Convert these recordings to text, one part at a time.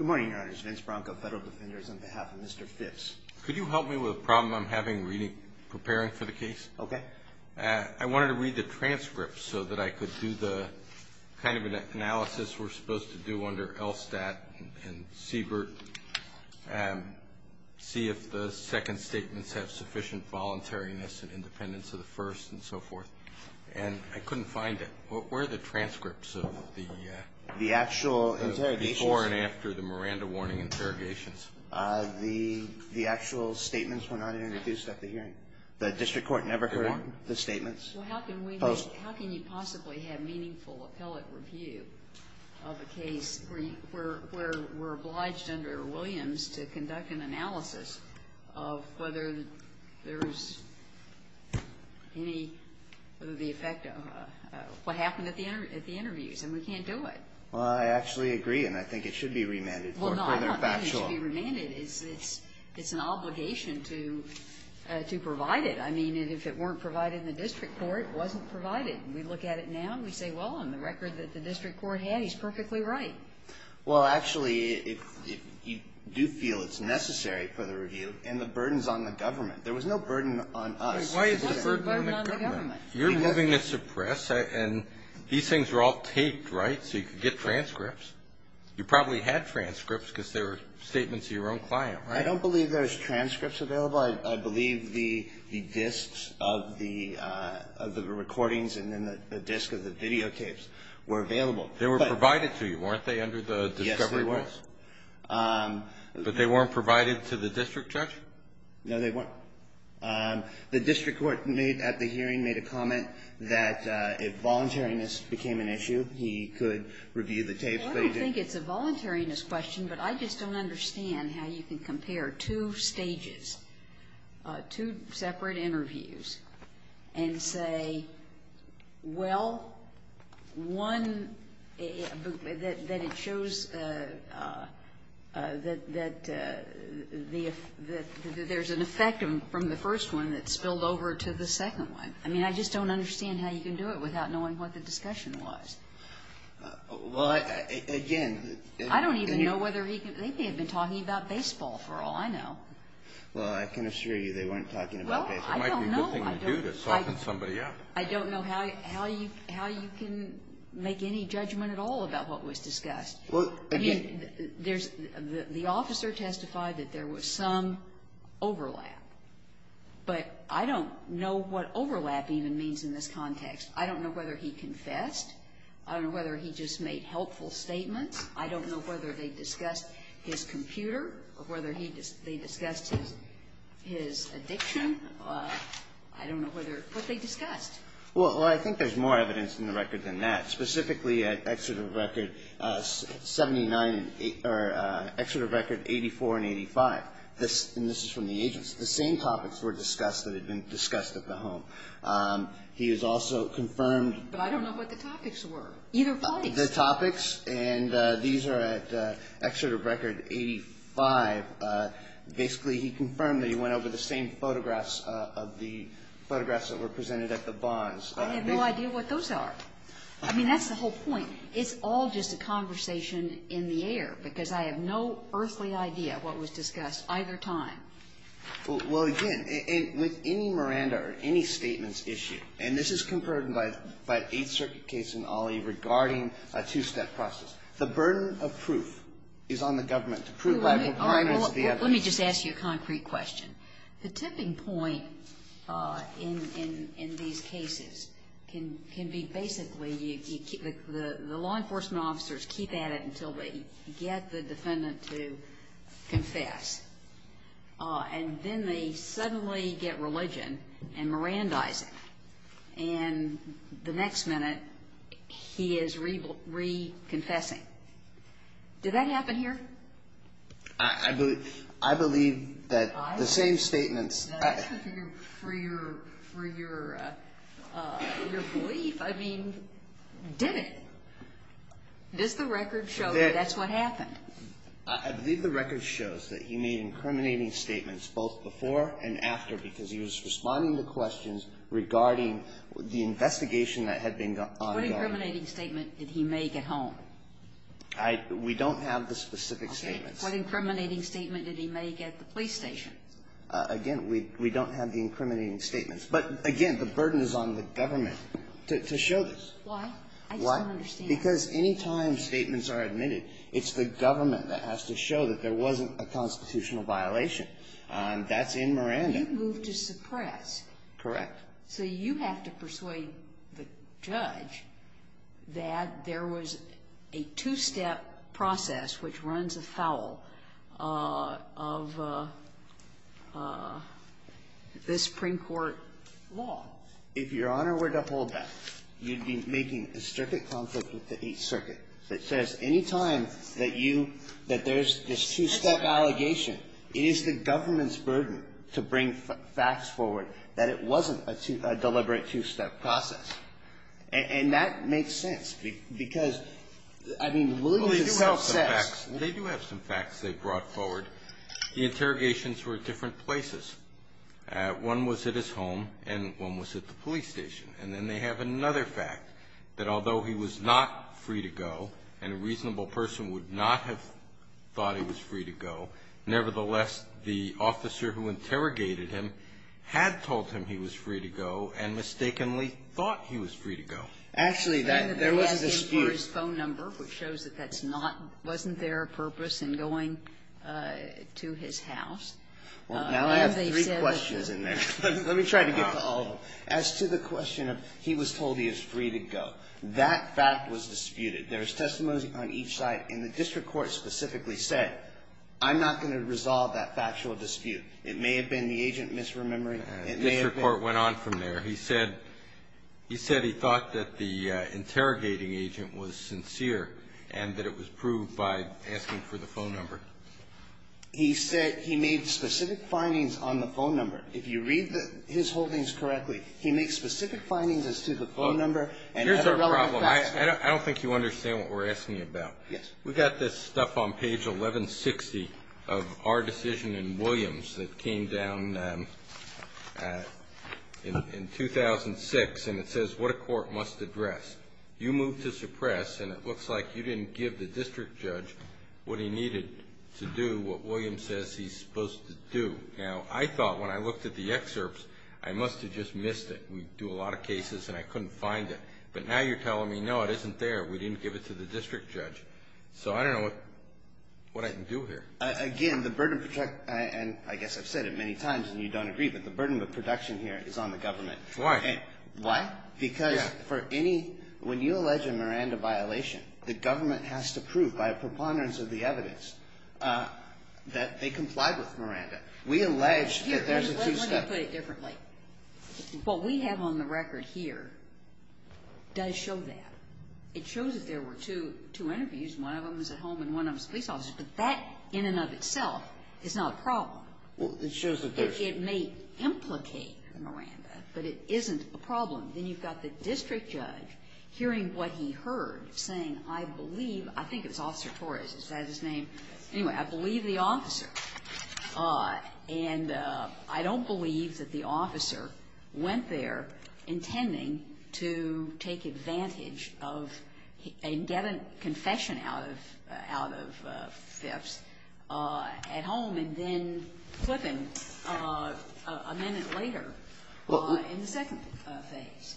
on behalf of Mr. Phipps. Could you help me with a problem I'm having preparing for the case? Okay. I wanted to read the transcripts so that I could do the kind of analysis we're supposed to do under LSTAT and CBIRT and see if the second statements have sufficient voluntariness and independence of the first and so forth. And I couldn't find it. Where are the transcripts of the actual interrogations? Before and after the Miranda warning interrogations. The actual statements were not introduced at the hearing. The district court never heard the statements? Well, how can you possibly have meaningful appellate review of a case where we're obliged under Williams to conduct an analysis of whether there's any of the effect of what happened at the interviews? And we can't do it. Well, I actually agree, and I think it should be remanded. Well, no, I don't think it should be remanded. It's an obligation to provide it. I mean, if it weren't provided in the district court, it wasn't provided. We look at it now and we say, well, on the record that the district court had, he's perfectly right. Well, actually, if you do feel it's necessary for the review, and the burden's on the government. There was no burden on us. Why is the burden on the government? You're moving this to press, and these things were all taped, right, so you could get transcripts. You probably had transcripts because they were statements of your own client, right? I don't believe there was transcripts available. I believe the discs of the recordings and then the discs of the videotapes were available. They were provided to you, weren't they, under the discovery rules? Yes, they were. But they weren't provided to the district judge? No, they weren't. The district court at the hearing made a comment that if voluntariness became an issue, he could review the tapes. I don't think it's a voluntariness question, but I just don't understand how you can compare two stages, two separate interviews, and say, well, one, that it shows that there's an effect from the first one that spilled over to the second one. I mean, I just don't understand how you can do it without knowing what the discussion was. Well, again, I don't even know whether he could be talking about baseball, for all I know. Well, I can assure you they weren't talking about baseball. Well, I don't know. It might be a good thing to do to soften somebody up. I don't know how you can make any judgment at all about what was discussed. I mean, there's the officer testified that there was some overlap, but I don't know what overlap even means in this context. I don't know whether he confessed. I don't know whether he just made helpful statements. I don't know whether they discussed his computer or whether they discussed his addiction. I don't know what they discussed. Well, I think there's more evidence in the record than that. Specifically at Exeter Record 84 and 85, and this is from the agency, the same topics were discussed that had been discussed at the home. He has also confirmed. But I don't know what the topics were, either place. The topics, and these are at Exeter Record 85. Basically, he confirmed that he went over the same photographs of the photographs that were presented at the bars. I have no idea what those are. I mean, that's the whole point. It's all just a conversation in the air, because I have no earthly idea what was discussed either time. Well, again, with any Miranda or any statements issue, and this is confirmed by an Eighth Circuit case in Ollie regarding a two-step process. The burden of proof is on the government to prove by the requirements of the evidence. All right. Well, let me just ask you a concrete question. The tipping point in these cases can be basically you keep the law enforcement officers keep at it until they get the defendant to confess, and then they suddenly get religion and Mirandaizing. And the next minute, he is reconfessing. Did that happen here? I believe that the same statements. For your belief, I mean, did it? Does the record show that that's what happened? I believe the record shows that he made incriminating statements both before and after, because he was responding to questions regarding the investigation that had been done on the area. What incriminating statement did he make at home? We don't have the specific statements. Okay. What incriminating statement did he make at the police station? Again, we don't have the incriminating statements. But, again, the burden is on the government to show this. Why? Why? I just don't understand. Because any time statements are admitted, it's the government that has to show that there wasn't a constitutional violation. That's in Miranda. You moved to suppress. Correct. So you have to persuade the judge that there was a two-step process which runs afoul of the Supreme Court law. If Your Honor were to hold that, you'd be making a circuit conflict with the Eighth Circuit that says any time that you – that there's this two-step allegation, it is the government's burden to bring facts forward that it wasn't a deliberate two-step process. And that makes sense, because, I mean, Williams himself says – Well, they do have some facts. They do have some facts they brought forward. The interrogations were at different places. One was at his home, and one was at the police station. And then they have another fact, that although he was not free to go, and a reasonable person would not have thought he was free to go, nevertheless, the officer who interrogated him had told him he was free to go and mistakenly thought he was free to go. Actually, that – there was a dispute. He was asking for his phone number, which shows that that's not – wasn't there a purpose in going to his house. Well, now I have three questions in there. Let me try to get to all of them. As to the question of he was told he was free to go, that fact was disputed. There is testimony on each side, and the district court specifically said, I'm not going to resolve that factual dispute. It may have been the agent misremembering. It may have been – The district court went on from there. He said – he said he thought that the interrogating agent was sincere and that it was proved by asking for the phone number. He said he made specific findings on the phone number. If you read the – his holdings correctly, he makes specific findings as to the phone number and other relevant facts. I don't think you understand what we're asking you about. Yes. We've got this stuff on page 1160 of our decision in Williams that came down in 2006, and it says what a court must address. You moved to suppress, and it looks like you didn't give the district judge what he needed to do what Williams says he's supposed to do. Now, I thought when I looked at the excerpts, I must have just missed it. We do a lot of cases, and I couldn't find it. But now you're telling me, no, it isn't there. We didn't give it to the district judge. So I don't know what I can do here. Again, the burden – and I guess I've said it many times, and you don't agree, but the burden of production here is on the government. Why? Why? Because for any – when you allege a Miranda violation, the government has to prove by a preponderance of the evidence that they complied with Miranda. We allege that there's a two-step – Let me put it differently. What we have on the record here does show that. It shows that there were two interviews. One of them was at home, and one of them was a police officer. But that in and of itself is not a problem. Well, it shows that there's – It may implicate Miranda, but it isn't a problem. Then you've got the district judge hearing what he heard, saying, I believe – I think it was Officer Torres. Is that his name? Anyway, I believe the officer. And I don't believe that the officer went there intending to take advantage of and get a confession out of Phipps at home and then flip him a minute later in the second phase.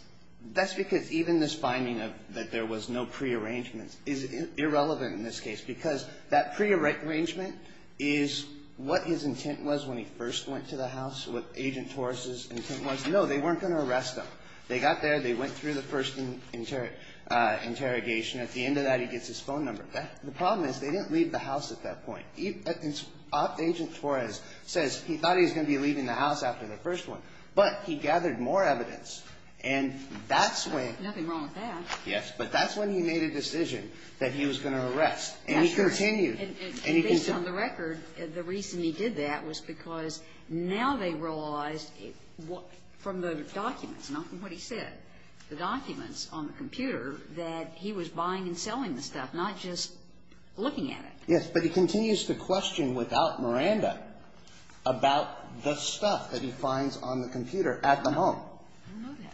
That's because even this finding that there was no prearrangement is irrelevant in this case because that prearrangement is what his intent was when he first went to the house, what Agent Torres' intent was. No, they weren't going to arrest him. They got there. They went through the first interrogation. At the end of that, he gets his phone number back. The problem is they didn't leave the house at that point. Agent Torres says he thought he was going to be leaving the house after the first one, but he gathered more evidence. And that's when – Yes, but that's when he made a decision that he was going to arrest. Yes, and he continued. And based on the record, the reason he did that was because now they realized from the documents, not from what he said, the documents on the computer, that he was buying and selling the stuff, not just looking at it. Yes, but he continues to question without Miranda about the stuff that he finds on the computer at the home. I know that.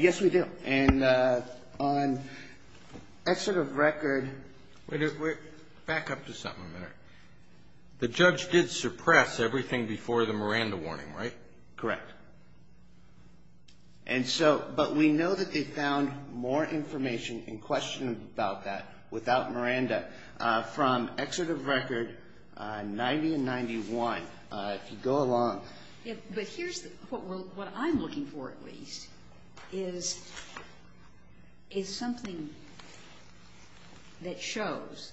Yes, we do. And on exit of record – Wait a minute. Back up to something a minute. The judge did suppress everything before the Miranda warning, right? Correct. And so – but we know that they found more information in question about that without Miranda from exit of record 90 and 91. If you go along – But here's what I'm looking for, at least, is something that shows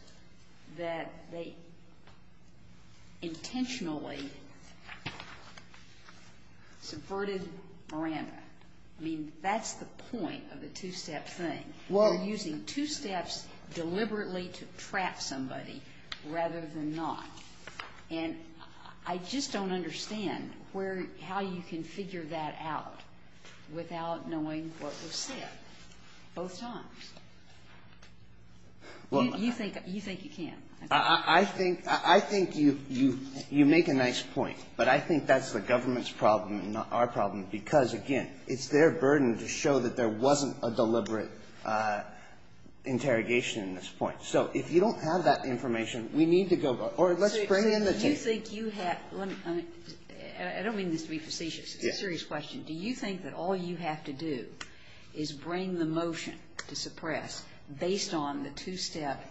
that they intentionally subverted Miranda. I mean, that's the point of the two-step thing, using two steps deliberately to trap somebody rather than not. And I just don't understand how you can figure that out without knowing what was said both times. You think you can. I think you make a nice point, but I think that's the government's problem and not our problem because, again, it's their burden to show that there wasn't a deliberate interrogation in this point. So if you don't have that information, we need to go – Or let's bring in the team. Do you think you have – I don't mean this to be facetious. It's a serious question. Do you think that all you have to do is bring the motion to suppress based on the two-step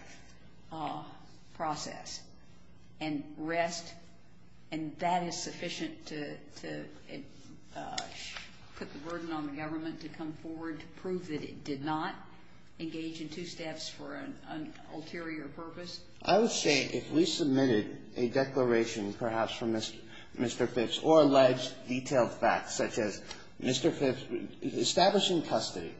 process and rest, and that is sufficient to put the burden on the government to come forward to prove that it did not engage in two steps for an ulterior purpose? I would say if we submitted a declaration perhaps from Mr. Phipps or alleged detailed facts such as Mr. Phipps establishing custody,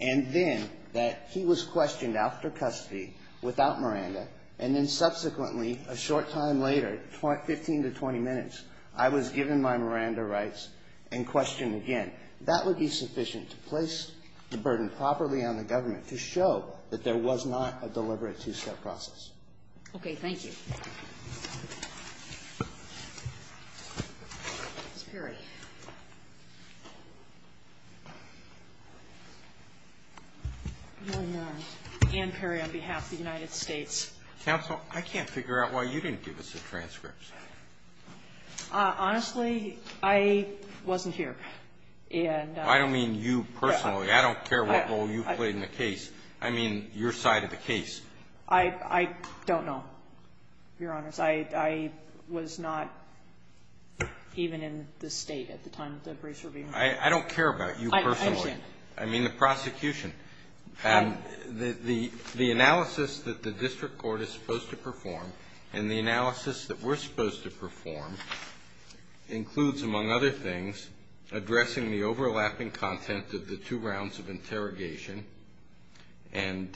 and then that he was questioned after custody without Miranda, and then subsequently a short time later, 15 to 20 minutes, I was given my Miranda rights and questioned again, that would be sufficient to place the burden properly on the government to show that there was not a deliberate two-step process. Okay. Thank you. Ms. Perry. Ann Perry on behalf of the United States. Counsel, I can't figure out why you didn't give us the transcripts. Honestly, I wasn't here. I don't mean you personally. I don't care what role you played in the case. I mean your side of the case. I don't know, Your Honors. I was not even in the State at the time that the briefs were being written. I don't care about you personally. I understand. I mean the prosecution. The analysis that the district court is supposed to perform and the analysis that we're supposed to perform includes, among other things, addressing the overlapping content of the two rounds of interrogation and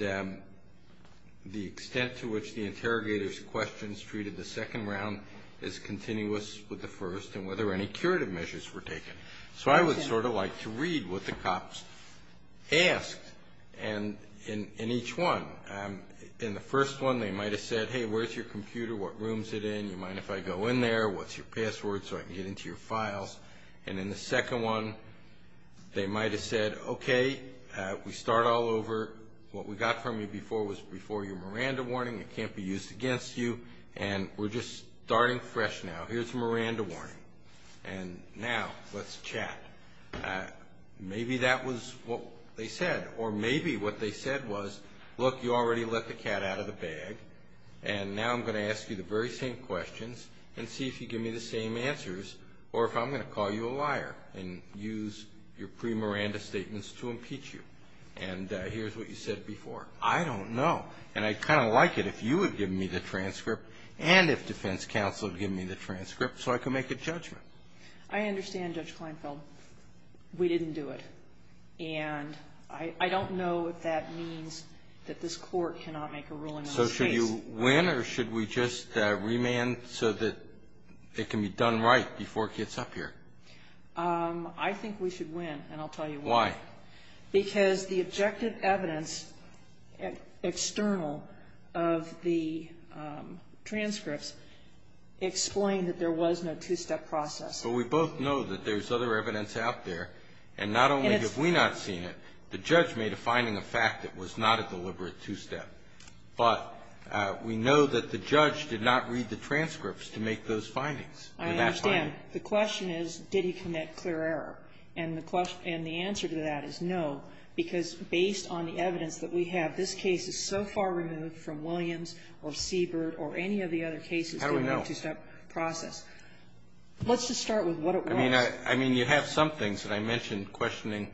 the extent to which the interrogator's questions treated the second round as continuous with the first and whether any curative measures were taken. So I would sort of like to read what the cops asked in each one. In the first one, they might have said, hey, where's your computer? What room is it in? Do you mind if I go in there? What's your password so I can get into your files? And in the second one, they might have said, okay, we start all over. What we got from you before was before your Miranda warning. It can't be used against you. And we're just starting fresh now. Here's a Miranda warning. And now let's chat. Maybe that was what they said. Or maybe what they said was, look, you already let the cat out of the bag. And now I'm going to ask you the very same questions and see if you give me the same answers or if I'm going to call you a liar and use your pre-Miranda statements to impeach you. And here's what you said before. I don't know. And I'd kind of like it if you would give me the transcript and if defense counsel would give me the transcript so I could make a judgment. I understand, Judge Kleinfeld. We didn't do it. And I don't know if that means that this Court cannot make a ruling on this case. So should you win or should we just remand so that it can be done right before it gets up here? I think we should win, and I'll tell you why. Why? Because the objective evidence external of the transcripts explain that there was no two-step process. But we both know that there's other evidence out there, and not only have we not seen it, the judge made a finding of fact that it was not a deliberate two-step. But we know that the judge did not read the transcripts to make those findings. I understand. The question is, did he commit clear error? And the answer to that is no, because based on the evidence that we have, this case is so far removed from Williams or Siebert or any of the other cases in the two-step process. How do we know? Let's just start with what it was. I mean, you have some things that I mentioned questioning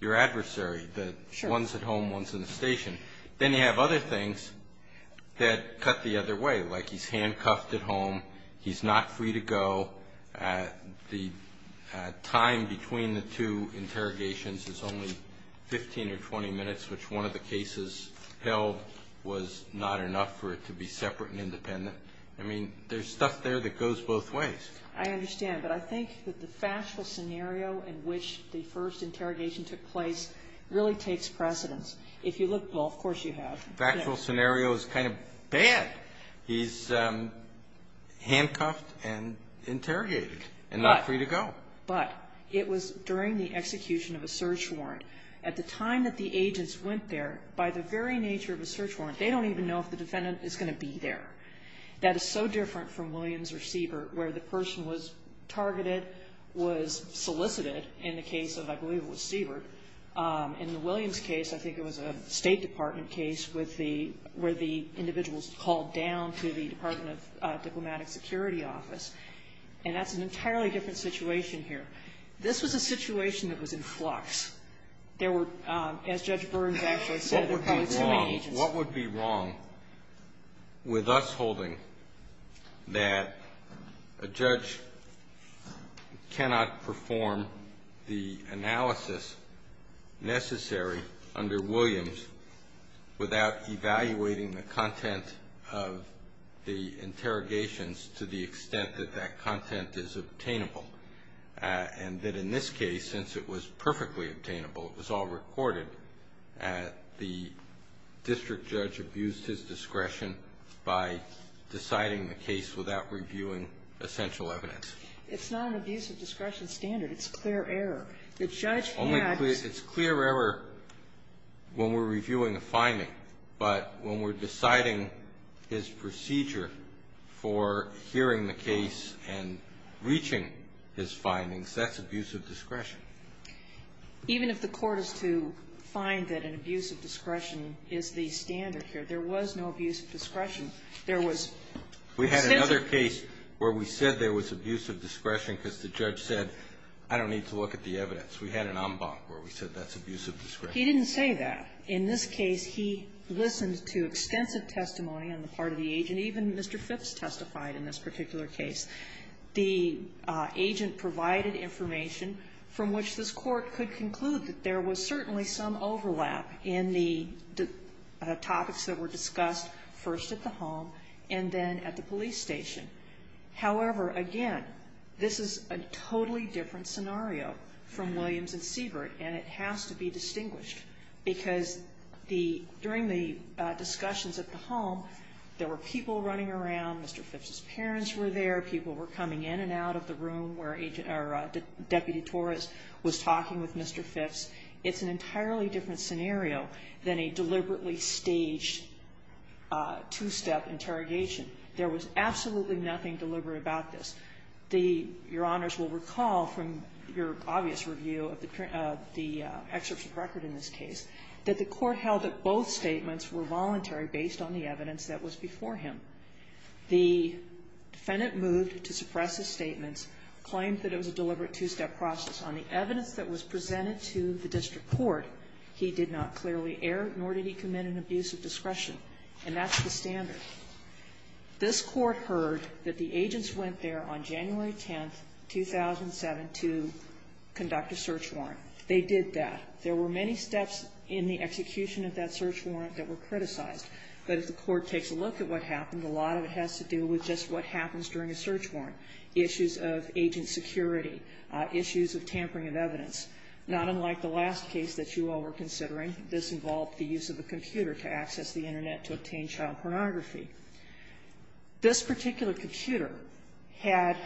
your adversary, the ones at home, ones in the station. Then you have other things that cut the other way, like he's handcuffed at home, he's not free to go. The time between the two interrogations is only 15 or 20 minutes, which one of the cases held was not enough for it to be separate and independent. I mean, there's stuff there that goes both ways. I understand. But I think that the factual scenario in which the first interrogation took place really takes precedence. If you look, well, of course you have. Factual scenario is kind of bad. He's handcuffed and interrogated and not free to go. But it was during the execution of a search warrant. At the time that the agents went there, by the very nature of a search warrant, they don't even know if the defendant is going to be there. That is so different from Williams or Siebert, where the person was targeted, was solicited in the case of, I believe it was Siebert. In the Williams case, I think it was a State Department case with the individuals called down to the Department of Diplomatic Security office. And that's an entirely different situation here. This was a situation that was in flux. There were, as Judge Burns actually said, there were probably too many agents. What would be wrong with us holding that a judge cannot perform the analysis necessary under Williams without evaluating the content of the interrogations to the extent that that content is obtainable? And that in this case, since it was perfectly obtainable, it was all recorded, the district judge abused his discretion by deciding the case without reviewing essential evidence. It's not an abuse of discretion standard. It's clear error. The judge had to be clear. It's clear error when we're reviewing a finding, but when we're deciding his procedure for hearing the case and reaching his findings, that's abuse of discretion. Even if the Court is to find that an abuse of discretion is the standard here, there was no abuse of discretion. There was. We had another case where we said there was abuse of discretion because the judge said, I don't need to look at the evidence. We had an en banc where we said that's abuse of discretion. He didn't say that. In this case, he listened to extensive testimony on the part of the agent. Even Mr. Phipps testified in this particular case. The agent provided information from which this Court could conclude that there was certainly some overlap in the topics that were discussed first at the home and then at the police station. However, again, this is a totally different scenario from Williams and Siebert, and it has to be distinguished because the – during the discussions at the home, there were people running around. Mr. Phipps's parents were there. People were coming in and out of the room where agent – or Deputy Torres was talking with Mr. Phipps. It's an entirely different scenario than a deliberately staged two-step interrogation. There was absolutely nothing deliberate about this. The – Your Honors will recall from your obvious review of the excerpts of record in this case that the Court held that both statements were voluntary based on the evidence that was before him. The defendant moved to suppress his statements, claimed that it was a deliberate two-step process. On the evidence that was presented to the district court, he did not clearly err, nor did he commit an abuse of discretion, and that's the standard. This Court heard that the agents went there on January 10th, 2007, to conduct a search warrant. They did that. There were many steps in the execution of that search warrant that were criticized. But if the Court takes a look at what happened, a lot of it has to do with just what happens during a search warrant, issues of agent security, issues of tampering of evidence. Not unlike the last case that you all were considering, this involved the use of a This particular computer had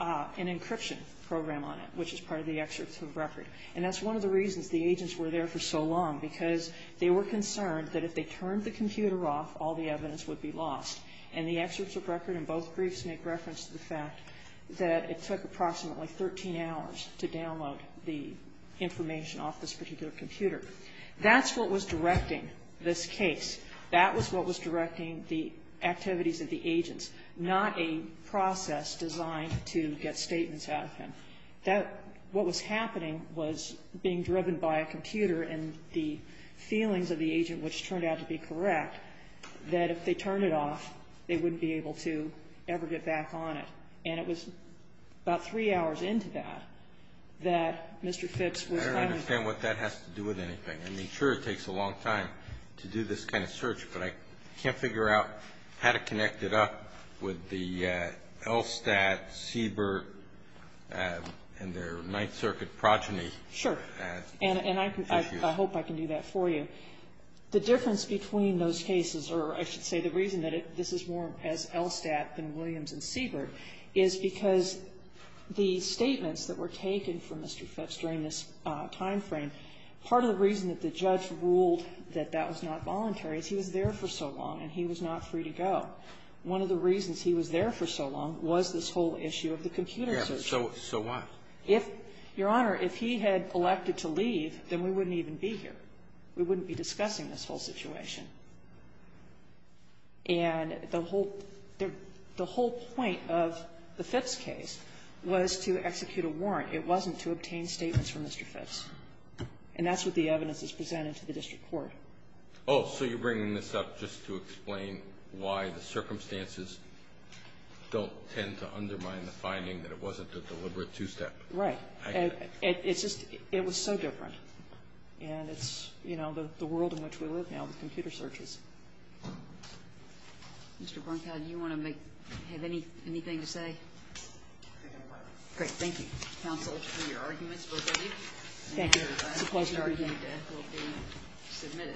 an encryption program on it, which is part of the excerpts of record. And that's one of the reasons the agents were there for so long, because they were concerned that if they turned the computer off, all the evidence would be lost. And the excerpts of record in both briefs make reference to the fact that it took approximately 13 hours to download the information off this particular computer. That's what was directing this case. That was what was directing the activities of the agents, not a process designed to get statements out of him. That what was happening was being driven by a computer and the feelings of the agent, which turned out to be correct, that if they turned it off, they wouldn't be able to ever get back on it. And it was about three hours into that that Mr. Phipps was having to go. I don't understand what that has to do with anything. I mean, sure, it takes a long time to do this kind of search, but I can't figure out how to connect it up with the LSTAT, Siebert, and their Ninth Circuit progeny. Sure. And I hope I can do that for you. The difference between those cases, or I should say the reason that this is more as LSTAT than Williams and Siebert, is because the statements that were taken from Mr. Phipps during this time frame, part of the reason that the judge ruled that that was not voluntary is he was there for so long and he was not free to go. One of the reasons he was there for so long was this whole issue of the computer search. Yeah. So why? If, Your Honor, if he had elected to leave, then we wouldn't even be here. We wouldn't be discussing this whole situation. And the whole point of the Phipps case was to execute a warrant. It wasn't to obtain statements from Mr. Phipps. And that's what the evidence is presented to the district court. Oh, so you're bringing this up just to explain why the circumstances don't tend to undermine the finding that it wasn't a deliberate two-step. Right. It's just it was so different. And it's, you know, the world in which we live now with computer searches. Mr. Bernkow, do you want to make anything to say? Great. Thank you, counsel, for your arguments. Thank you. It's a pleasure to be here.